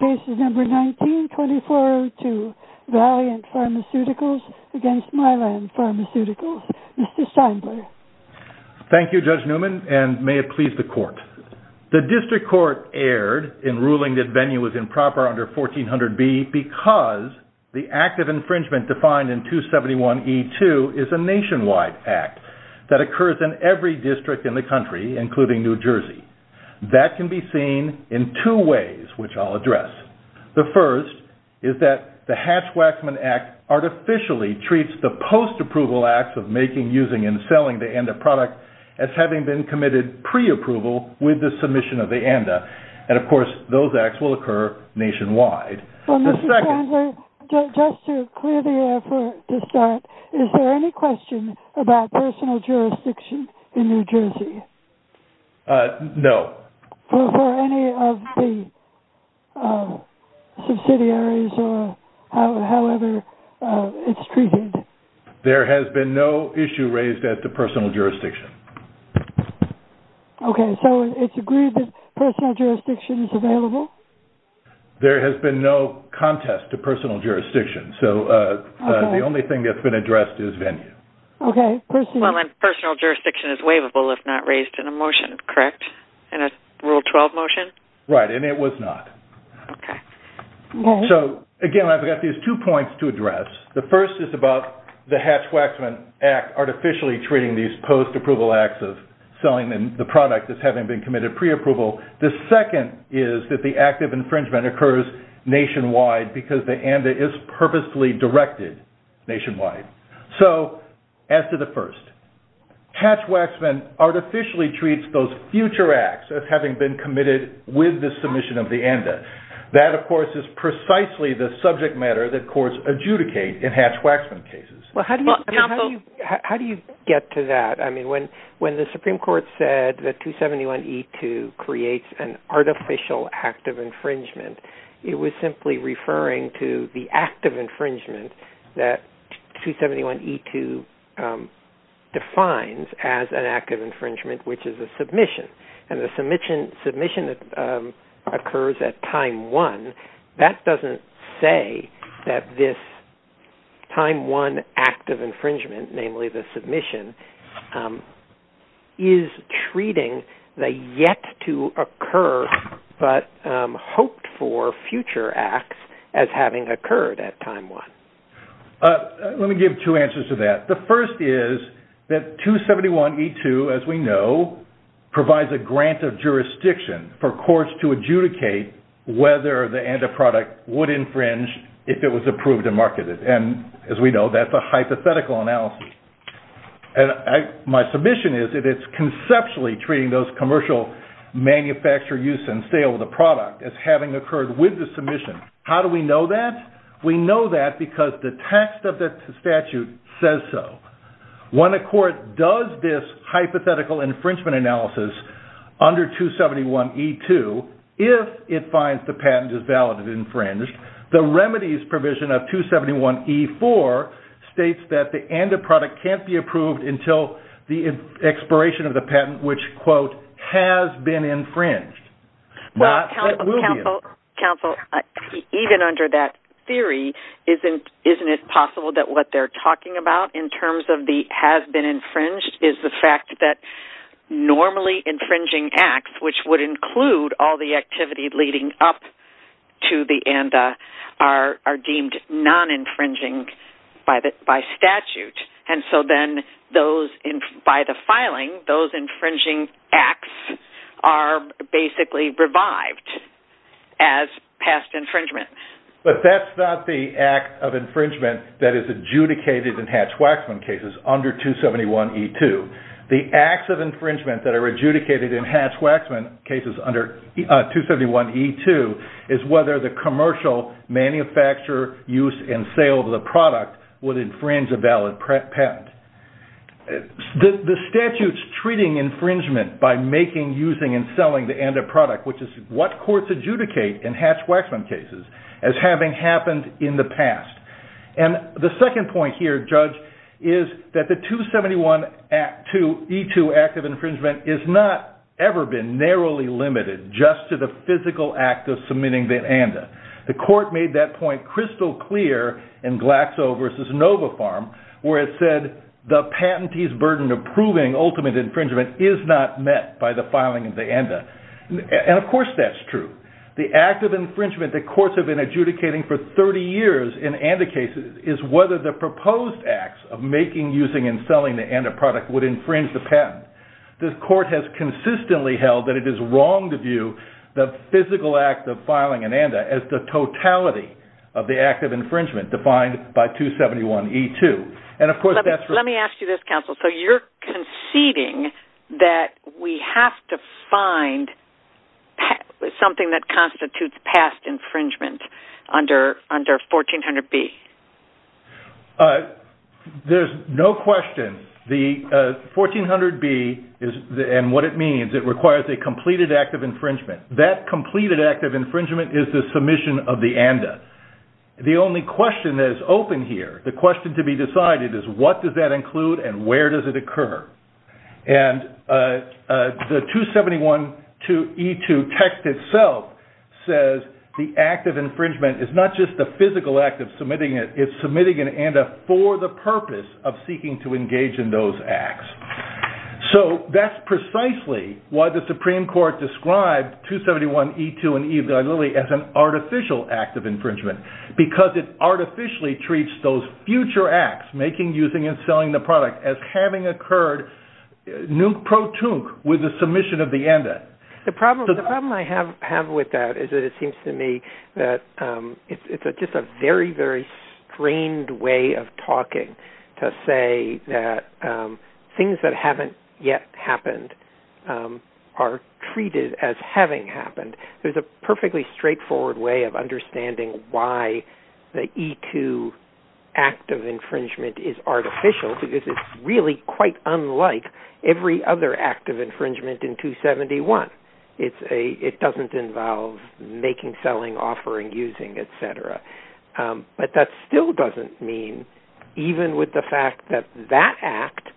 Case No. 19-2402 Valiant Pharmaceuticals v. Mylan Pharmaceuticals Mr. Steinbler Thank you Judge Newman and may it please the court. The district court erred in ruling that venue was improper under 1400B because the act of infringement defined in 271E2 is a nationwide act that occurs in every district in the country including New Jersey. That can be seen in two ways which I'll address. The first is that the Hatch-Waxman Act artificially treats the post-approval acts of making, using and selling the ANDA product as having been committed pre-approval with the submission of the ANDA. And of course those acts will occur nationwide. The second Mr. Steinbler, just to clear the air to start, is there any question about personal jurisdiction in New Jersey? No. For any of the subsidiaries or however it's treated? There has been no issue raised at the personal jurisdiction. Okay. So it's agreed that personal jurisdiction is available? There has been no contest to personal jurisdiction. So the only thing that's been addressed is venue. Personal jurisdiction is waivable if not raised in a motion, correct? In a Rule 12 motion? Right. And it was not. Okay. So again, I've got these two points to address. The first is about the Hatch-Waxman Act artificially treating these post-approval acts of selling the product as having been committed pre-approval. The second is that the act of infringement occurs nationwide because the ANDA is purposely directed nationwide. So as to the first, Hatch-Waxman artificially treats those future acts as having been committed with the submission of the ANDA. That, of course, is precisely the subject matter that courts adjudicate in Hatch-Waxman cases. How do you get to that? I mean, when the Supreme Court said that 271E2 creates an artificial act of infringement, it was simply referring to the act of infringement that 271E2 defines as an act of infringement, which is a submission. And the submission that occurs at time one, that doesn't say that this time one act of infringement, namely the submission, is treating the yet-to-occur-but-hoped-for future acts as having occurred at time one. Let me give two answers to that. The first is that 271E2, as we know, provides a grant of jurisdiction for courts to adjudicate whether the ANDA product would infringe if it was approved and marketed. And as we know, that's a hypothetical analysis. My submission is that it's conceptually treating those commercial manufacture use and sale of the product as having occurred with the submission. How do we know that? We know that because the text of the statute says so. When a court does this hypothetical infringement analysis under 271E2, if it finds the patent is valid and infringed, the remedies provision of 271E4 states that the ANDA product can't be approved until the expiration of the patent which, quote, isn't it possible that what they're talking about in terms of the has-been-infringed is the fact that normally infringing acts, which would include all the activity leading up to the ANDA, are deemed non-infringing by statute. And so then by the filing, those infringing acts are basically revived as past infringement. But that's not the act of infringement that is adjudicated in Hatch-Waxman cases under 271E2. The acts of infringement that are adjudicated in Hatch-Waxman cases under 271E2 is whether the commercial manufacture, use, and sale of the product would infringe a valid patent. The statute's treating infringement by making, using, and selling the ANDA product, which is what courts adjudicate in Hatch-Waxman cases, as having happened in the past. And the second point here, Judge, is that the 271E2 act of infringement is not ever been narrowly limited just to the physical act of submitting the ANDA. The court made that point crystal clear in Glaxo v. Nova Farm, where it said the patentee's burden of proving ultimate infringement is not met by the filing of the ANDA. And of course that's true. The act of infringement that courts have been adjudicating for 30 years in ANDA cases is whether the proposed acts of making, using, and selling the ANDA product would infringe the patent. The court has consistently held that it is wrong to view the physical act of filing an ANDA as the totality of the act of infringement defined by 271E2. Let me ask you this, counsel. So you're conceding that we have to find something that constitutes past infringement under 1400B? There's no question. The 1400B and what it means, it requires a completed act of infringement. That completed act of infringement is the submission of the ANDA. The only question that is open here, the question to be decided, is what does that include and where does it occur? And the 271E2 text itself says the act of infringement is not just a physical act of submitting it, it's submitting an ANDA for the purpose of seeking to engage in those acts. So that's precisely why the Supreme Court described 271E2 as an artificial act of infringement because it artificially treats those future acts, making, using, and selling the product, as having occurred nuke pro tunque with the submission of the ANDA. The problem I have with that is that it seems to me that it's just a very, very strained way of talking to say that things that haven't yet happened are treated as having happened. There's a perfectly straightforward way of understanding why the E2 act of infringement is artificial because it's really quite unlike every other act of infringement in 271. It doesn't involve making, selling, offering, using, etc. But that still doesn't mean, even with the fact that that act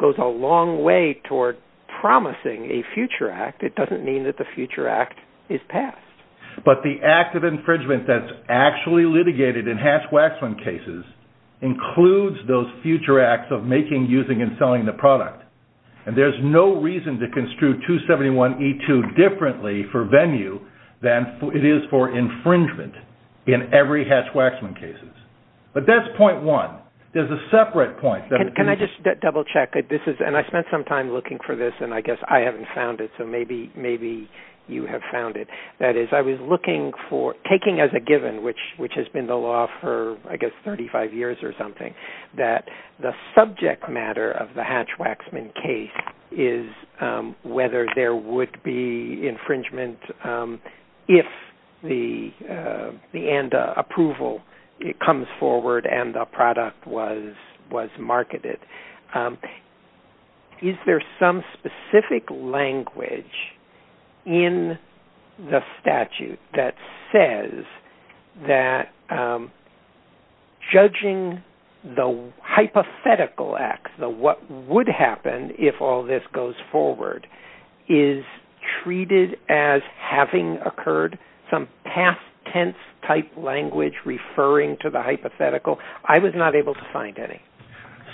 goes a long way toward promising a future act, it doesn't mean that the future act is passed. But the act of infringement that's actually litigated in Hatch-Waxman cases includes those future acts of making, using, and selling the product. And there's no reason to construe 271E2 differently for venue than it is for infringement in every Hatch-Waxman cases. But that's point one. There's a separate point. Can I just double check? And I spent some time looking for this, and I guess I haven't found it, so maybe you have found it. That is, I was looking for, taking as a given, which has been the law for, I guess, 35 years or something, that the subject matter of the Hatch-Waxman case is whether there would be infringement if the end approval comes forward and the product was marketed. Is there some specific language in the statute that says that judging the hypothetical acts, what would happen if all this goes forward, is treated as having occurred? Some past tense type language referring to the hypothetical? I was not able to find any.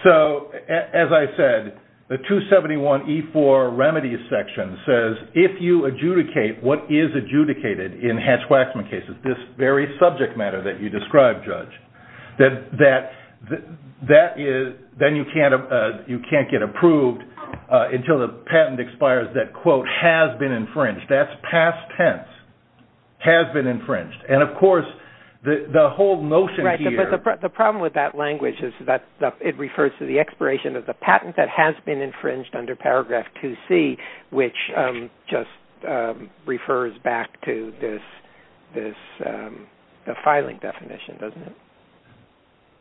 So, as I said, the 271E4 Remedies section says if you adjudicate what is adjudicated in Hatch-Waxman cases, this very subject matter that you described, Judge, then you can't get approved until the patent expires that, quote, has been infringed. That's past tense. Has been infringed. And, of course, the whole notion here... Right, but the problem with that language is that it refers to the expiration of the patent that has been infringed under paragraph 2C, which just refers back to this, the filing definition, doesn't it?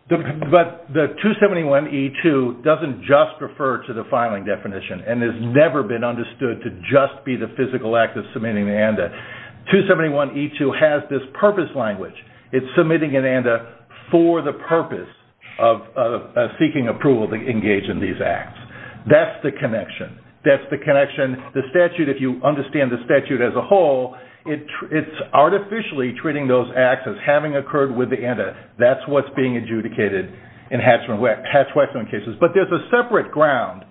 But the 271E2 doesn't just refer to the filing definition and has never been understood to just be the physical act of submitting an ANDA. 271E2 has this purpose language. It's submitting an ANDA for the purpose of seeking approval to engage in these acts. That's the connection. The statute, if you understand the statute as a whole, it's artificially treating those acts as having occurred with the ANDA. That's what's being adjudicated in Hatch-Waxman cases. But there's a separate ground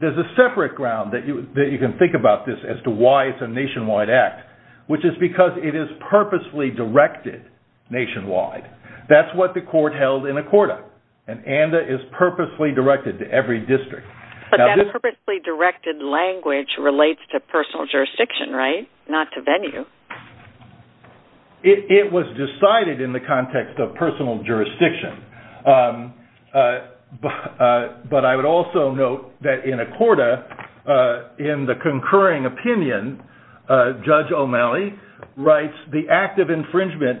that you can think about this as to why it's a nationwide act, which is because it is purposely directed nationwide. That's what the court held in Accorda. An ANDA is purposely directed to every district. But that purposely directed language relates to personal jurisdiction, right? Not to venue. It was decided in the context of personal jurisdiction. But I would also note that in Accorda, in the concurring opinion, Judge O'Malley writes, the act of infringement,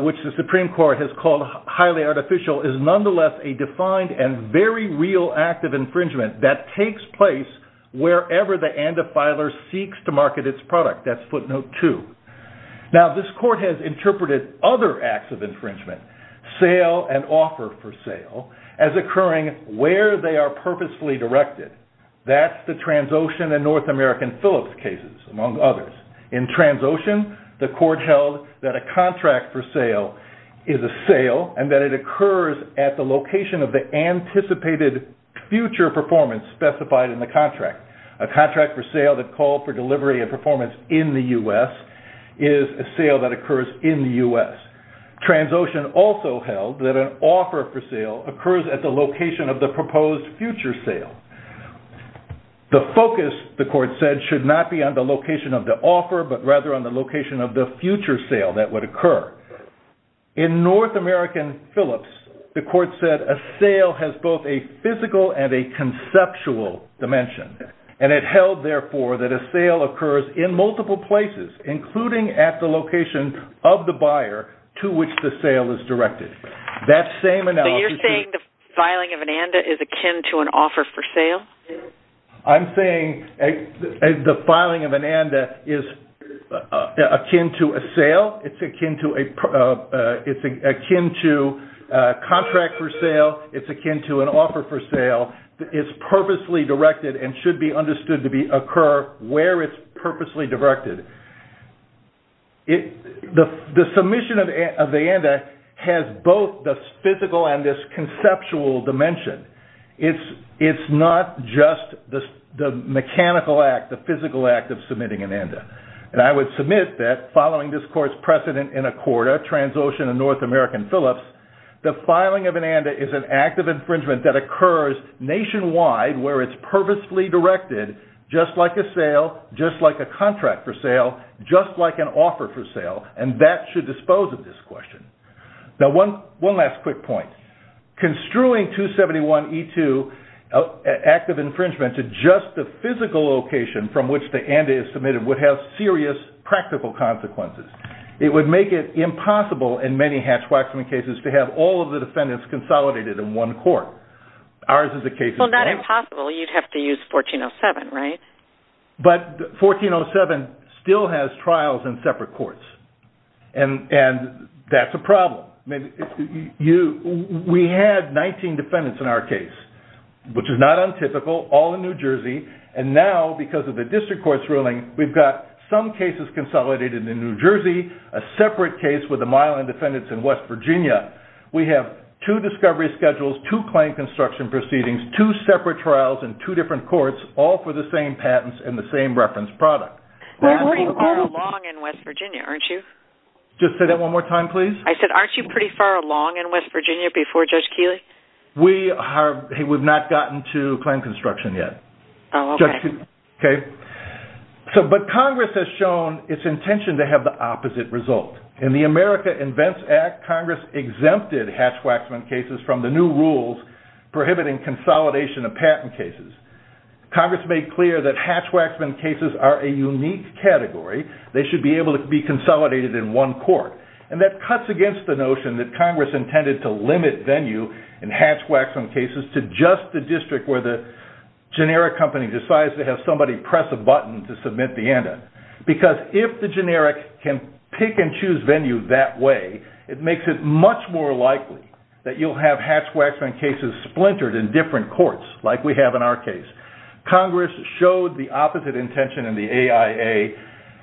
which the Supreme Court has called highly artificial, is nonetheless a defined and very real act of infringement that takes place wherever the ANDA filer seeks to market its product. That's footnote two. Now, this court has interpreted other acts of infringement, sale and offer for sale, as occurring where they are purposefully directed. That's the Transocean and North American Phillips cases, among others. In Transocean, the court held that a contract for sale is a sale and that it occurs at the location of the anticipated future performance specified in the contract. A contract for sale that called for delivery of performance in the U.S. is a sale that occurs in the U.S. Transocean also held that an offer for sale occurs at the location of the proposed future sale. The focus, the court said, should not be on the location of the offer, but rather on the location of the future sale that would occur. In North American Phillips, the court said a sale has both a physical and a conceptual dimension. And it held, therefore, that a sale occurs in multiple places, including at the location of the buyer to which the sale is directed. So you're saying the filing of an ANDA is akin to an offer for sale? I'm saying the filing of an ANDA is akin to a sale. It's akin to a contract for sale. It's akin to an offer for sale. It's purposely directed and should be understood to occur where it's purposely directed. The submission of the ANDA has both the physical and this conceptual dimension. It's not just the mechanical act, the physical act of submitting an ANDA. And I would submit that following this court's precedent in Accorda, Transocean, and North American Phillips, the filing of an ANDA is an act of infringement that occurs nationwide where it's purposefully directed, just like a sale, just like a contract for sale, just like an offer for sale. And that should dispose of this question. Now, one last quick point. Construing 271E2, an act of infringement to just the physical location from which the ANDA is submitted, would have serious practical consequences. It would make it impossible in many hash waxing cases to have all of the defendants consolidated in one court. Well, not impossible. You'd have to use 1407, right? But 1407 still has trials in separate courts. And that's a problem. We had 19 defendants in our case, which is not untypical, all in New Jersey. And now, because of the district court's ruling, we've got some cases consolidated in New Jersey, a separate case with a mile in defendants in West Virginia. We have two discovery schedules, two claim construction proceedings, two separate trials in two different courts, all for the same patents and the same reference product. Well, you are long in West Virginia, aren't you? Just say that one more time, please. I said, aren't you pretty far along in West Virginia before Judge Keeley? We have not gotten to claim construction yet. Oh, okay. Okay? But Congress has shown its intention to have the opposite result. In the America Invents Act, Congress exempted hatchwaxman cases from the new rules prohibiting consolidation of patent cases. Congress made clear that hatchwaxman cases are a unique category. They should be able to be consolidated in one court. And that cuts against the notion that Congress intended to limit venue in hatchwaxman cases to just the district where the generic company decides to have somebody press a button to submit the end. Because if the generic can pick and choose venue that way, it makes it much more likely that you'll have hatchwaxman cases splintered in different courts, like we have in our case. Congress showed the opposite intention in the AIA,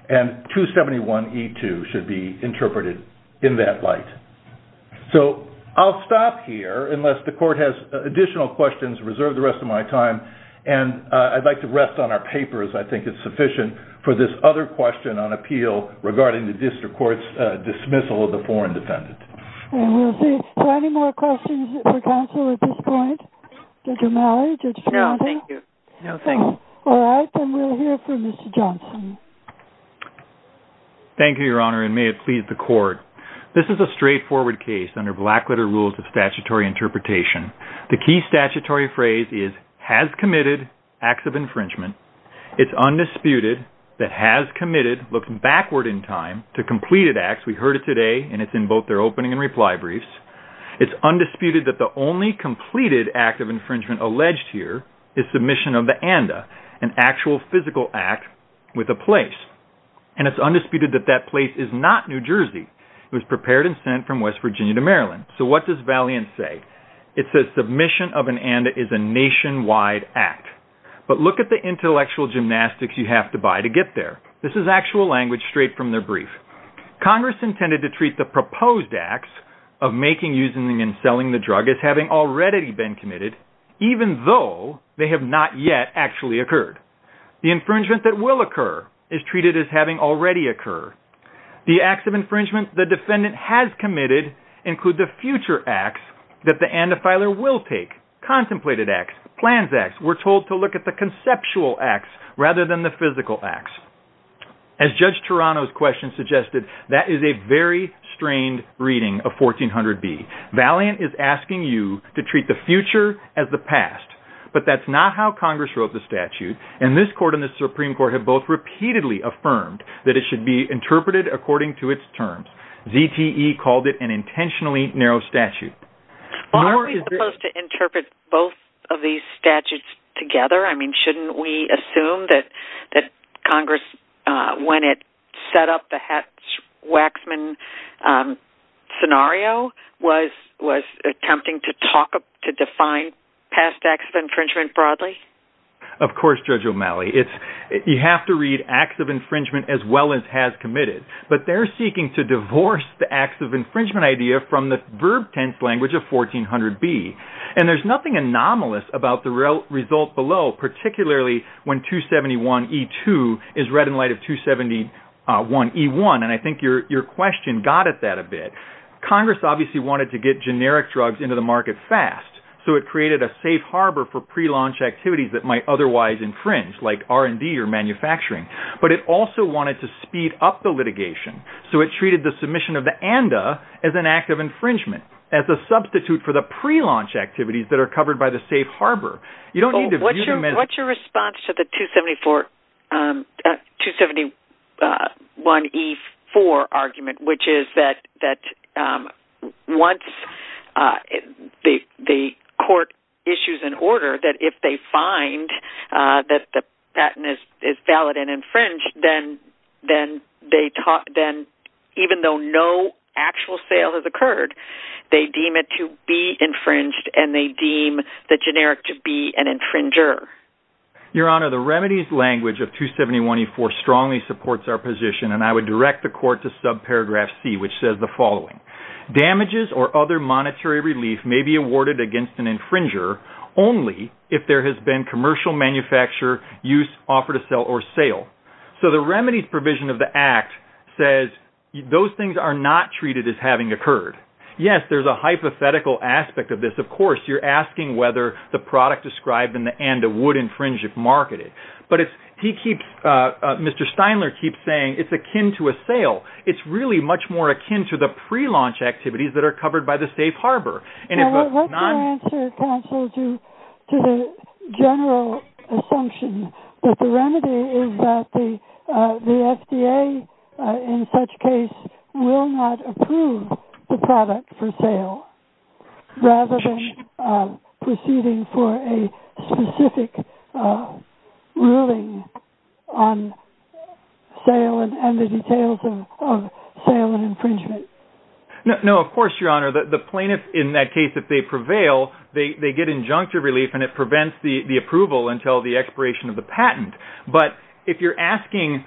and 271E2 should be interpreted in that light. So I'll stop here, unless the court has additional questions. Reserve the rest of my time, and I'd like to rest on our papers. I think it's sufficient for this other question on appeal regarding the district court's dismissal of the foreign defendant. And we'll see if there are any more questions for counsel at this point. Judge O'Malley? No, thank you. All right, then we'll hear from Mr. Johnson. Thank you, Your Honor, and may it please the court. This is a straightforward case under black-letter rules of statutory interpretation. The key statutory phrase is, has committed acts of infringement. It's undisputed that has committed, looking backward in time, to completed acts. We heard it today, and it's in both their opening and reply briefs. It's undisputed that the only completed act of infringement alleged here is submission of the ANDA, an actual physical act with a place. And it's undisputed that that place is not New Jersey. It was prepared and sent from West Virginia to Maryland. So what does Valiant say? It says submission of an ANDA is a nationwide act. But look at the intellectual gymnastics you have to buy to get there. This is actual language straight from their brief. Congress intended to treat the proposed acts of making, using, and selling the drug as having already been committed, even though they have not yet actually occurred. The infringement that will occur is treated as having already occurred. The acts of infringement the defendant has committed include the future acts that the ANDA filer will take, contemplated acts, plans acts. We're told to look at the conceptual acts rather than the physical acts. As Judge Toronto's question suggested, that is a very strained reading of 1400B. Valiant is asking you to treat the future as the past. But that's not how Congress wrote the statute. And this court and the Supreme Court have both repeatedly affirmed that it should be interpreted according to its terms. ZTE called it an intentionally narrow statute. Are we supposed to interpret both of these statutes together? I mean, shouldn't we assume that Congress, when it set up the Hatch-Waxman scenario, was attempting to define past acts of infringement broadly? Of course, Judge O'Malley. You have to read acts of infringement as well as has committed. But they're seeking to divorce the acts of infringement idea from the verb tense language of 1400B. And there's nothing anomalous about the result below, particularly when 271E2 is read in light of 271E1. And I think your question got at that a bit. Congress obviously wanted to get generic drugs into the market fast. So it created a safe harbor for prelaunch activities that might otherwise infringe, like R&D or manufacturing. But it also wanted to speed up the litigation. So it treated the submission of the ANDA as an act of infringement, as a substitute for the prelaunch activities that are covered by the safe harbor. What's your response to the 271E4 argument, which is that once the court issues an order that if they find that the patent is valid and infringed, then even though no actual sale has occurred, they deem it to be infringed and they deem the generic to be an infringer? Your Honor, the remedies language of 271E4 strongly supports our position. And I would direct the court to subparagraph C, which says the following. Damages or other monetary relief may be awarded against an infringer only if there has been commercial manufacture, use, offer to sell, or sale. So the remedies provision of the act says those things are not treated as having occurred. Yes, there's a hypothetical aspect of this. Of course, you're asking whether the product described in the ANDA would infringe if marketed. But Mr. Steinler keeps saying it's akin to a sale. It's really much more akin to the prelaunch activities that are covered by the safe harbor. What's your answer, counsel, to the general assumption that the remedy is that the FDA, in such case, will not approve the product for sale rather than proceeding for a specific ruling on sale and the details of sale and infringement? No, of course, Your Honor. The plaintiff, in that case, if they prevail, they get injunctive relief and it prevents the approval until the expiration of the patent. But if you're asking,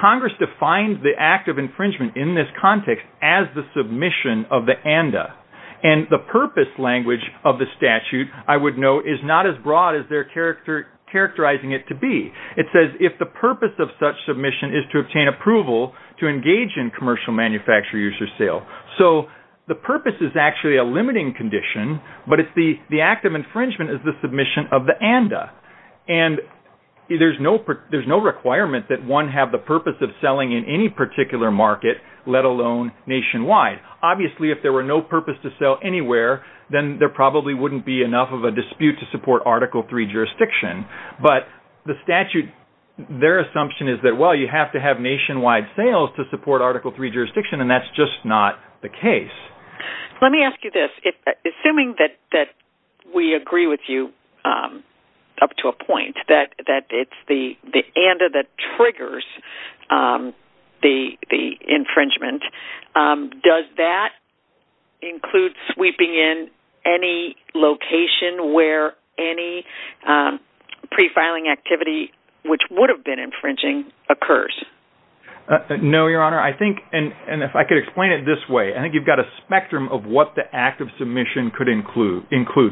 Congress defines the act of infringement in this context as the submission of the ANDA. And the purpose language of the statute, I would note, is not as broad as they're characterizing it to be. It says if the purpose of such submission is to obtain approval to engage in commercial manufacture, use, or sale. So the purpose is actually a limiting condition, but the act of infringement is the submission of the ANDA. And there's no requirement that one have the purpose of selling in any particular market, let alone nationwide. Obviously, if there were no purpose to sell anywhere, then there probably wouldn't be enough of a dispute to support Article III jurisdiction. But the statute, their assumption is that, well, you have to have nationwide sales to support Article III jurisdiction, and that's just not the case. Let me ask you this. Assuming that we agree with you up to a point, that it's the ANDA that triggers the infringement, does that include sweeping in any location where any prefiling activity, which would have been infringing, occurs? No, Your Honor. I think, and if I could explain it this way, I think you've got a spectrum of what the act of submission could include,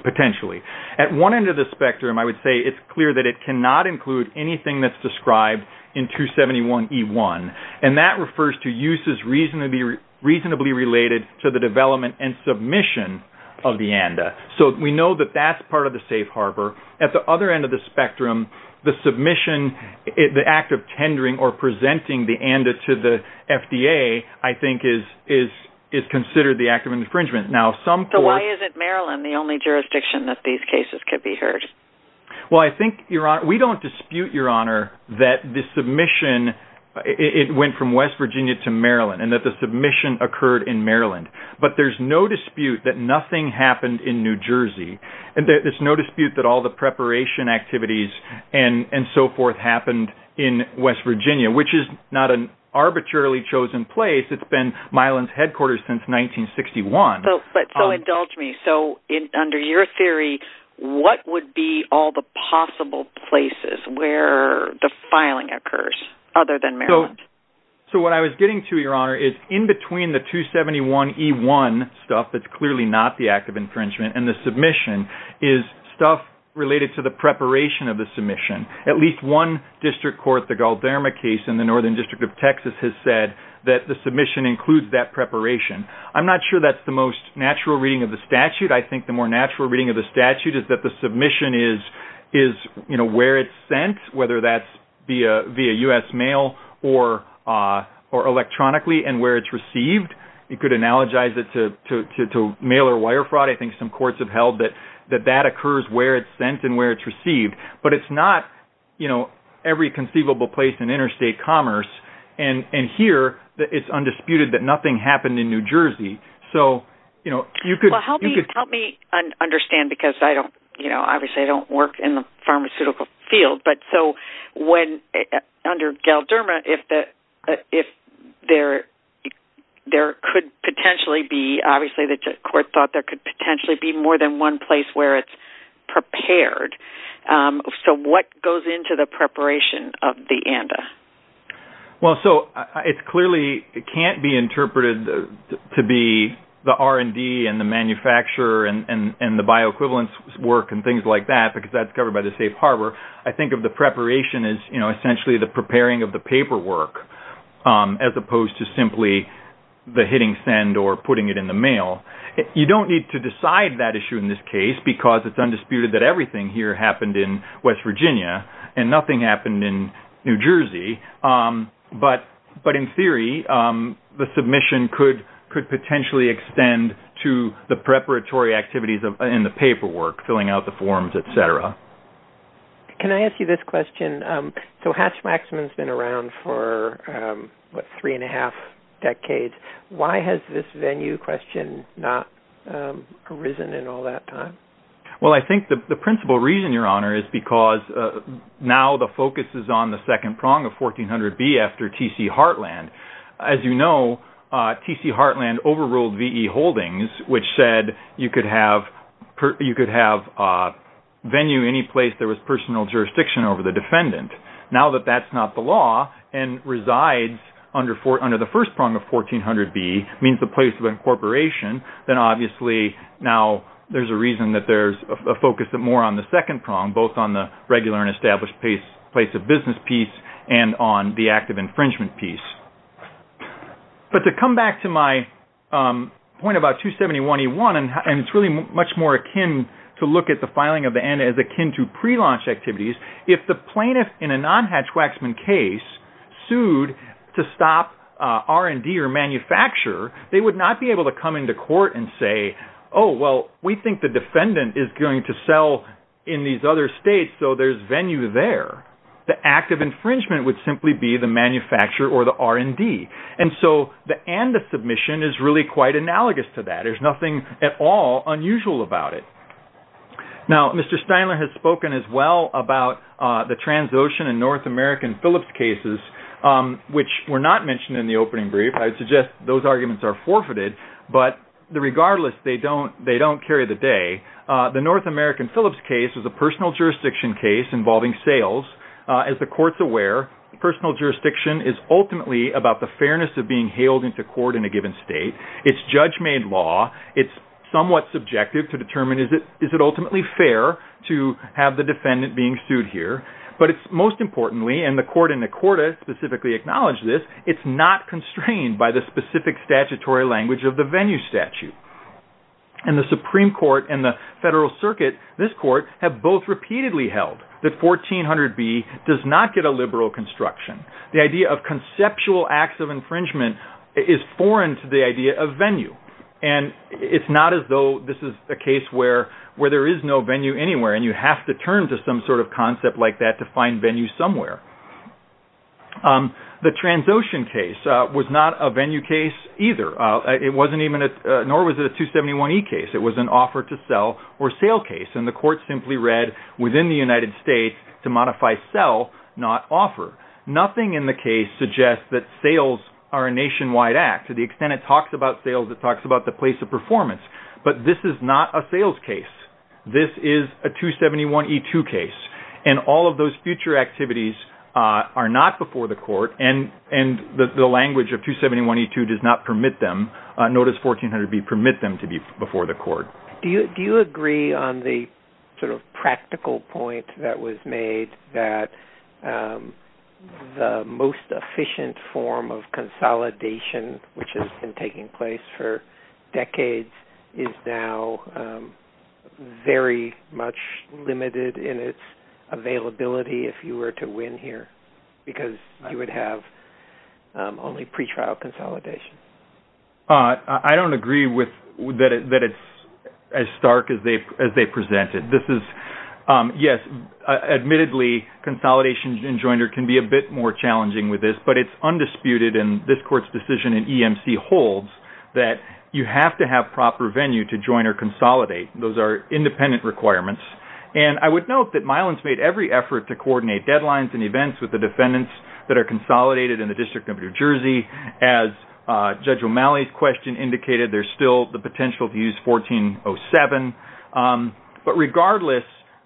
potentially. At one end of the spectrum, I would say it's clear that it cannot include anything that's described in 271E1. And that refers to uses reasonably related to the development and submission of the ANDA. So we know that that's part of the safe harbor. At the other end of the spectrum, the submission, the act of tendering or presenting the ANDA to the FDA, I think is considered the act of infringement. So why isn't Maryland the only jurisdiction that these cases could be heard? Well, I think, Your Honor, we don't dispute, Your Honor, that the submission, it went from West Virginia to Maryland, and that the submission occurred in Maryland. But there's no dispute that nothing happened in New Jersey. And there's no dispute that all the preparation activities and so forth happened in West Virginia, which is not an arbitrarily chosen place. It's been Mylan's headquarters since 1961. So indulge me. So under your theory, what would be all the possible places where the filing occurs other than Maryland? So what I was getting to, Your Honor, is in between the 271E1 stuff, that's clearly not the act of infringement, and the submission, is stuff related to the preparation of the submission. At least one district court, the Galderma case in the Northern District of Texas, has said that the submission includes that preparation. I'm not sure that's the most natural reading of the statute. I think the more natural reading of the statute is that the submission is, you know, where it's sent, whether that's via U.S. mail or electronically and where it's received. You could analogize it to mail or wire fraud. I think some courts have held that that occurs where it's sent and where it's received. But it's not, you know, every conceivable place in interstate commerce. And here, it's undisputed that nothing happened in New Jersey. So, you know, you could... Well, help me understand because I don't, you know, obviously I don't work in the pharmaceutical field. But so when, under Galderma, if there could potentially be, obviously the court thought there could potentially be more than one place where it's prepared. So what goes into the preparation of the ANDA? Well, so it clearly can't be interpreted to be the R&D and the manufacturer and the bioequivalence work and things like that because that's covered by the safe harbor. I think of the preparation as, you know, essentially the preparing of the paperwork as opposed to simply the hitting send or putting it in the mail. You don't need to decide that issue in this case because it's undisputed that everything here happened in West Virginia and nothing happened in New Jersey. But in theory, the submission could potentially extend to the preparatory activities in the paperwork, filling out the forms, et cetera. Can I ask you this question? So Hatch-Maxman's been around for, what, three and a half decades. Why has this venue question not arisen in all that time? Well, I think the principal reason, Your Honor, is because now the focus is on the second prong of 1400B after T.C. Heartland. As you know, T.C. Heartland overruled V.E. Holdings, which said you could have venue any place there was personal jurisdiction over the defendant. Now that that's not the law and resides under the first prong of 1400B, means the place of incorporation, then obviously now there's a reason that there's a focus more on the second prong, both on the regular and established place of business piece and on the active infringement piece. But to come back to my point about 271E1, and it's really much more akin to look at the filing of the N as akin to prelaunch activities, if the plaintiff in a non-Hatch-Maxman case sued to stop R&D or manufacturer, they would not be able to come into court and say, oh, well, we think the defendant is going to sell in these other states, so there's venue there. The active infringement would simply be the manufacturer or the R&D. And so the and the submission is really quite analogous to that. There's nothing at all unusual about it. Now, Mr. Steinler has spoken as well about the Transocean and North American Phillips cases, which were not mentioned in the opening brief. I would suggest those arguments are forfeited. But regardless, they don't carry the day. The North American Phillips case is a personal jurisdiction case involving sales. As the court's aware, personal jurisdiction is ultimately about the fairness of being hailed into court in a given state. It's judge-made law. It's somewhat subjective to determine, is it ultimately fair to have the defendant being sued here? But it's most importantly, and the court in Accorda specifically acknowledged this, it's not constrained by the specific statutory language of the venue statute. And the Supreme Court and the Federal Circuit, this court, have both repeatedly held that 1400B does not get a liberal construction. The idea of conceptual acts of infringement is foreign to the idea of venue. And it's not as though this is a case where there is no venue anywhere, and you have to turn to some sort of concept like that to find venue somewhere. The Transocean case was not a venue case either. Nor was it a 271E case. It was an offer to sell or sale case. And the court simply read within the United States to modify sell, not offer. Nothing in the case suggests that sales are a nationwide act. To the extent it talks about sales, it talks about the place of performance. But this is not a sales case. This is a 271E2 case. And all of those future activities are not before the court. And the language of 271E2 does not permit them. Notice 1400B permit them to be before the court. Do you agree on the sort of practical point that was made, that the most efficient form of consolidation, which has been taking place for decades, is now very much limited in its availability if you were to win here, because you would have only pretrial consolidation? I don't agree that it's as stark as they presented. This is, yes, admittedly, consolidation in joiner can be a bit more challenging with this. But it's undisputed, and this court's decision in EMC holds, that you have to have proper venue to join or consolidate. Those are independent requirements. And I would note that Milan's made every effort to coordinate deadlines and events with the defendants that are consolidated in the District of New Jersey as Judge O'Malley's question indicated. There's still the potential to use 1407. But regardless,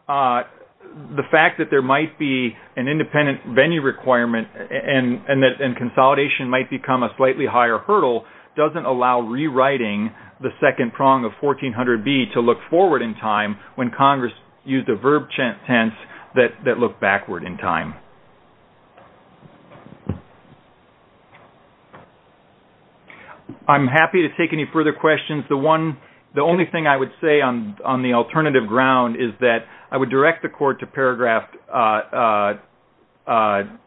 the fact that there might be an independent venue requirement and that consolidation might become a slightly higher hurdle doesn't allow rewriting the second prong of 1400B to look forward in time when Congress used a verb tense that looked backward in time. I'm happy to take any further questions. The only thing I would say on the alternative ground is that I would direct the court to paragraph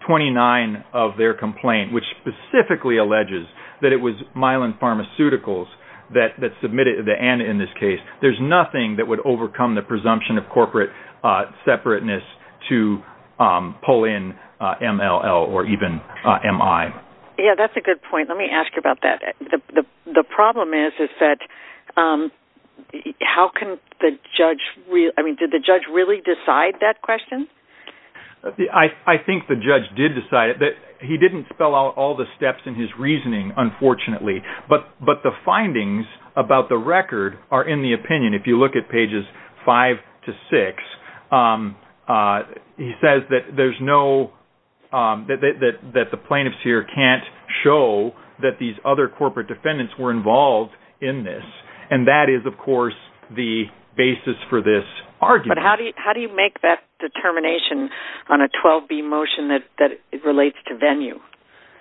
29 of their complaint, which specifically alleges that it was Milan Pharmaceuticals that submitted it, and in this case there's nothing that would overcome the presumption of corporate separateness to pull in MLL or even MI. Yeah, that's a good point. Let me ask you about that. The problem is that how can the judge really decide that question? I think the judge did decide it. He didn't spell out all the steps in his reasoning, unfortunately. But the findings about the record are in the opinion. If you look at pages five to six, he says that the plaintiffs here can't show that these other corporate defendants were involved in this, and that is, of course, the basis for this argument. But how do you make that determination on a 12B motion that relates to venue?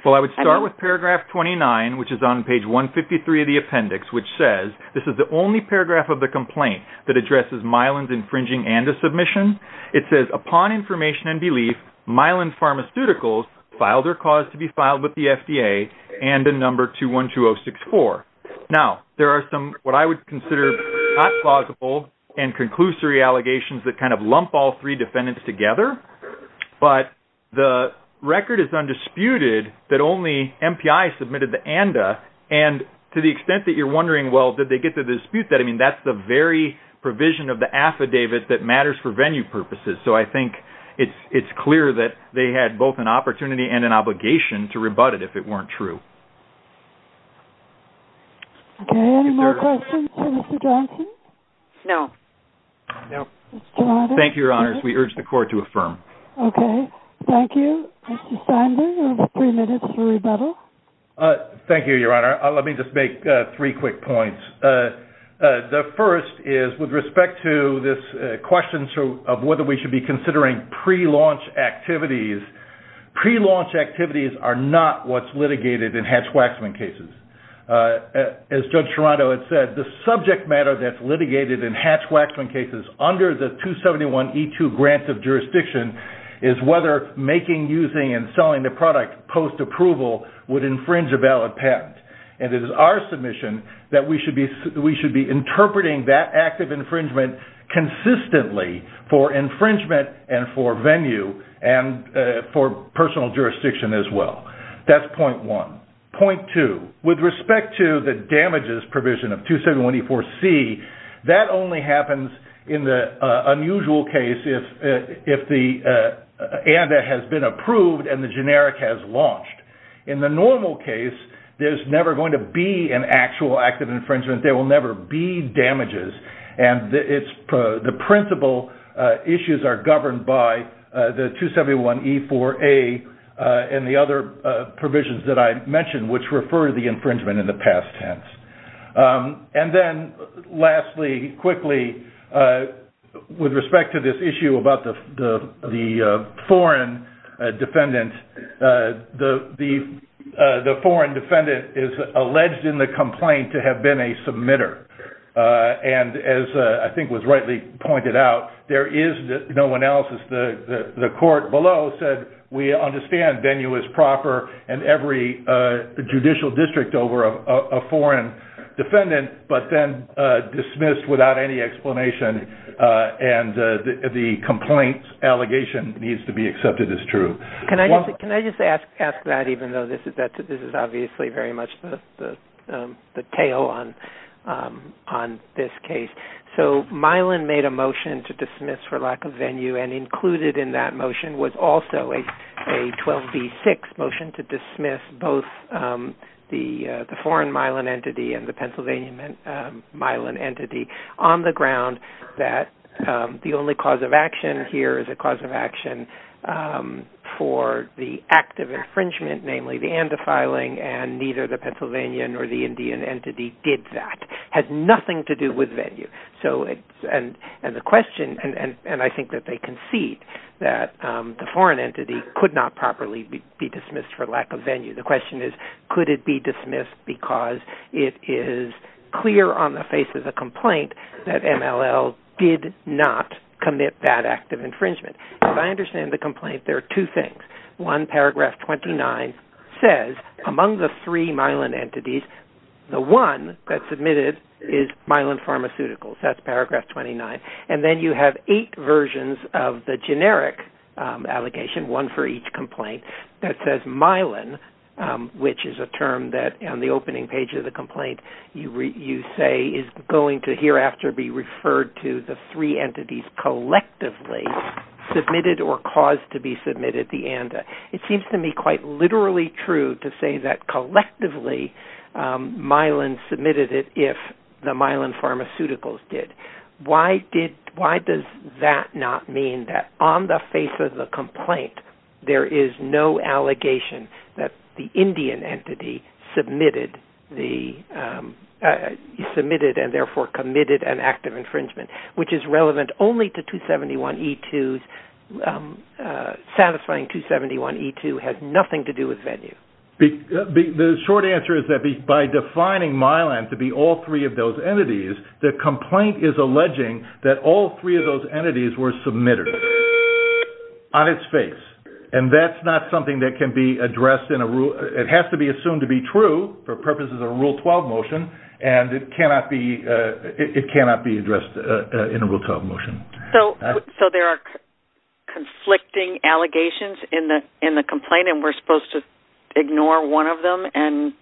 Well, I would start with paragraph 29, which is on page 153 of the appendix, which says this is the only paragraph of the complaint that addresses Milan's infringing ANDA submission. It says, upon information and belief, Milan Pharmaceuticals filed their cause to be filed with the FDA, ANDA number 212064. Now, there are some what I would consider not plausible and conclusory allegations that kind of lump all three defendants together, but the record is undisputed that only MPI submitted the ANDA, and to the extent that you're wondering, well, did they get to dispute that, I mean, that's the very provision of the affidavit that matters for venue purposes. So I think it's clear that they had both an opportunity and an obligation to rebut it if it weren't true. Okay. Any more questions for Mr. Johnson? No. Thank you, Your Honors. We urge the Court to affirm. Okay. Thank you. Mr. Steinberg, you have three minutes for rebuttal. Thank you, Your Honor. Let me just make three quick points. The first is with respect to this question of whether we should be considering pre-launch activities, pre-launch activities are not what's litigated in Hatch-Waxman cases. As Judge Sharando had said, the subject matter that's litigated in Hatch-Waxman cases under the 271E2 grant of jurisdiction is whether making, using, and selling the product post-approval would infringe a valid patent. And it is our submission that we should be interpreting that act of infringement consistently for infringement and for venue and for personal jurisdiction as well. That's point one. Point two, with respect to the damages provision of 271E4C, that only happens in the unusual case if the ANDA has been approved and the generic has launched. In the normal case, there's never going to be an actual act of infringement. There will never be damages. And the principal issues are governed by the 271E4A and the other provisions that I mentioned, which refer to the infringement in the past tense. And then lastly, quickly, with respect to this issue about the foreign defendant, the foreign defendant is alleged in the complaint to have been a submitter. And as I think was rightly pointed out, there is no analysis. The court below said we understand venue is proper in every judicial district over a foreign defendant, but then dismissed without any explanation. And the complaint allegation needs to be accepted as true. Can I just ask that, even though this is obviously very much the tail on this case? So Milan made a motion to dismiss for lack of venue and included in that motion was also a 12B6 motion to dismiss both the foreign Milan entity and the Pennsylvania Milan entity on the ground that the only cause of action here is a cause of action for the act of infringement, namely the and defiling, and neither the Pennsylvanian or the Indian entity did that. It has nothing to do with venue. And I think that they concede that the foreign entity could not properly be dismissed for lack of venue. The question is could it be dismissed because it is clear on the face of the complaint that MLL did not commit that act of infringement. As I understand the complaint, there are two things. One, paragraph 29 says among the three Milan entities, the one that submitted is Milan Pharmaceuticals. That's paragraph 29. And then you have eight versions of the generic allocation, one for each complaint, that says Milan, which is a term that on the opening page of the complaint you say is going to hereafter be referred to the three entities collectively submitted or caused to be submitted the and. It seems to me quite literally true to say that collectively Milan submitted it if the Milan Pharmaceuticals did. Why does that not mean that on the face of the complaint, there is no allegation that the Indian entity submitted and therefore committed an act of infringement, which is relevant only to 271E2. Satisfying 271E2 has nothing to do with venue. The short answer is that by defining Milan to be all three of those entities, the complaint is alleging that all three of those entities were submitted on its face. And that's not something that can be addressed in a rule. It has to be assumed to be true for purposes of a Rule 12 motion, and it cannot be addressed in a Rule 12 motion. So there are conflicting allegations in the complaint, and we're supposed to ignore one of them and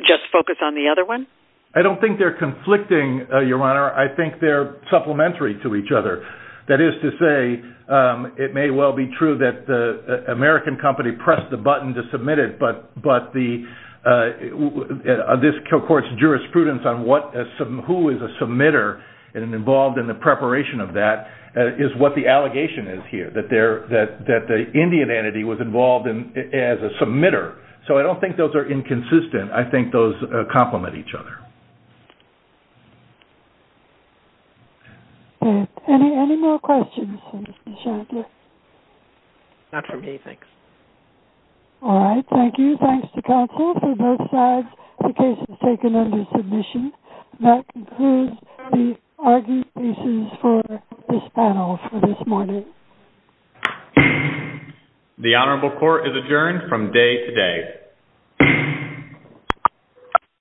just focus on the other one? I don't think they're conflicting, Your Honor. I think they're supplementary to each other. That is to say, it may well be true that the American company pressed the button to submit it, but this court's jurisprudence on who is a submitter and involved in the preparation of that is what the allegation is here, that the Indian entity was involved as a submitter. So I don't think those are inconsistent. I think those complement each other. Any more questions for Mr. Shadler? Not for me, thanks. All right, thank you. Thanks to counsel for both sides. The case is taken under submission. That concludes the argument pieces for this panel for this morning. The Honorable Court is adjourned from day to day.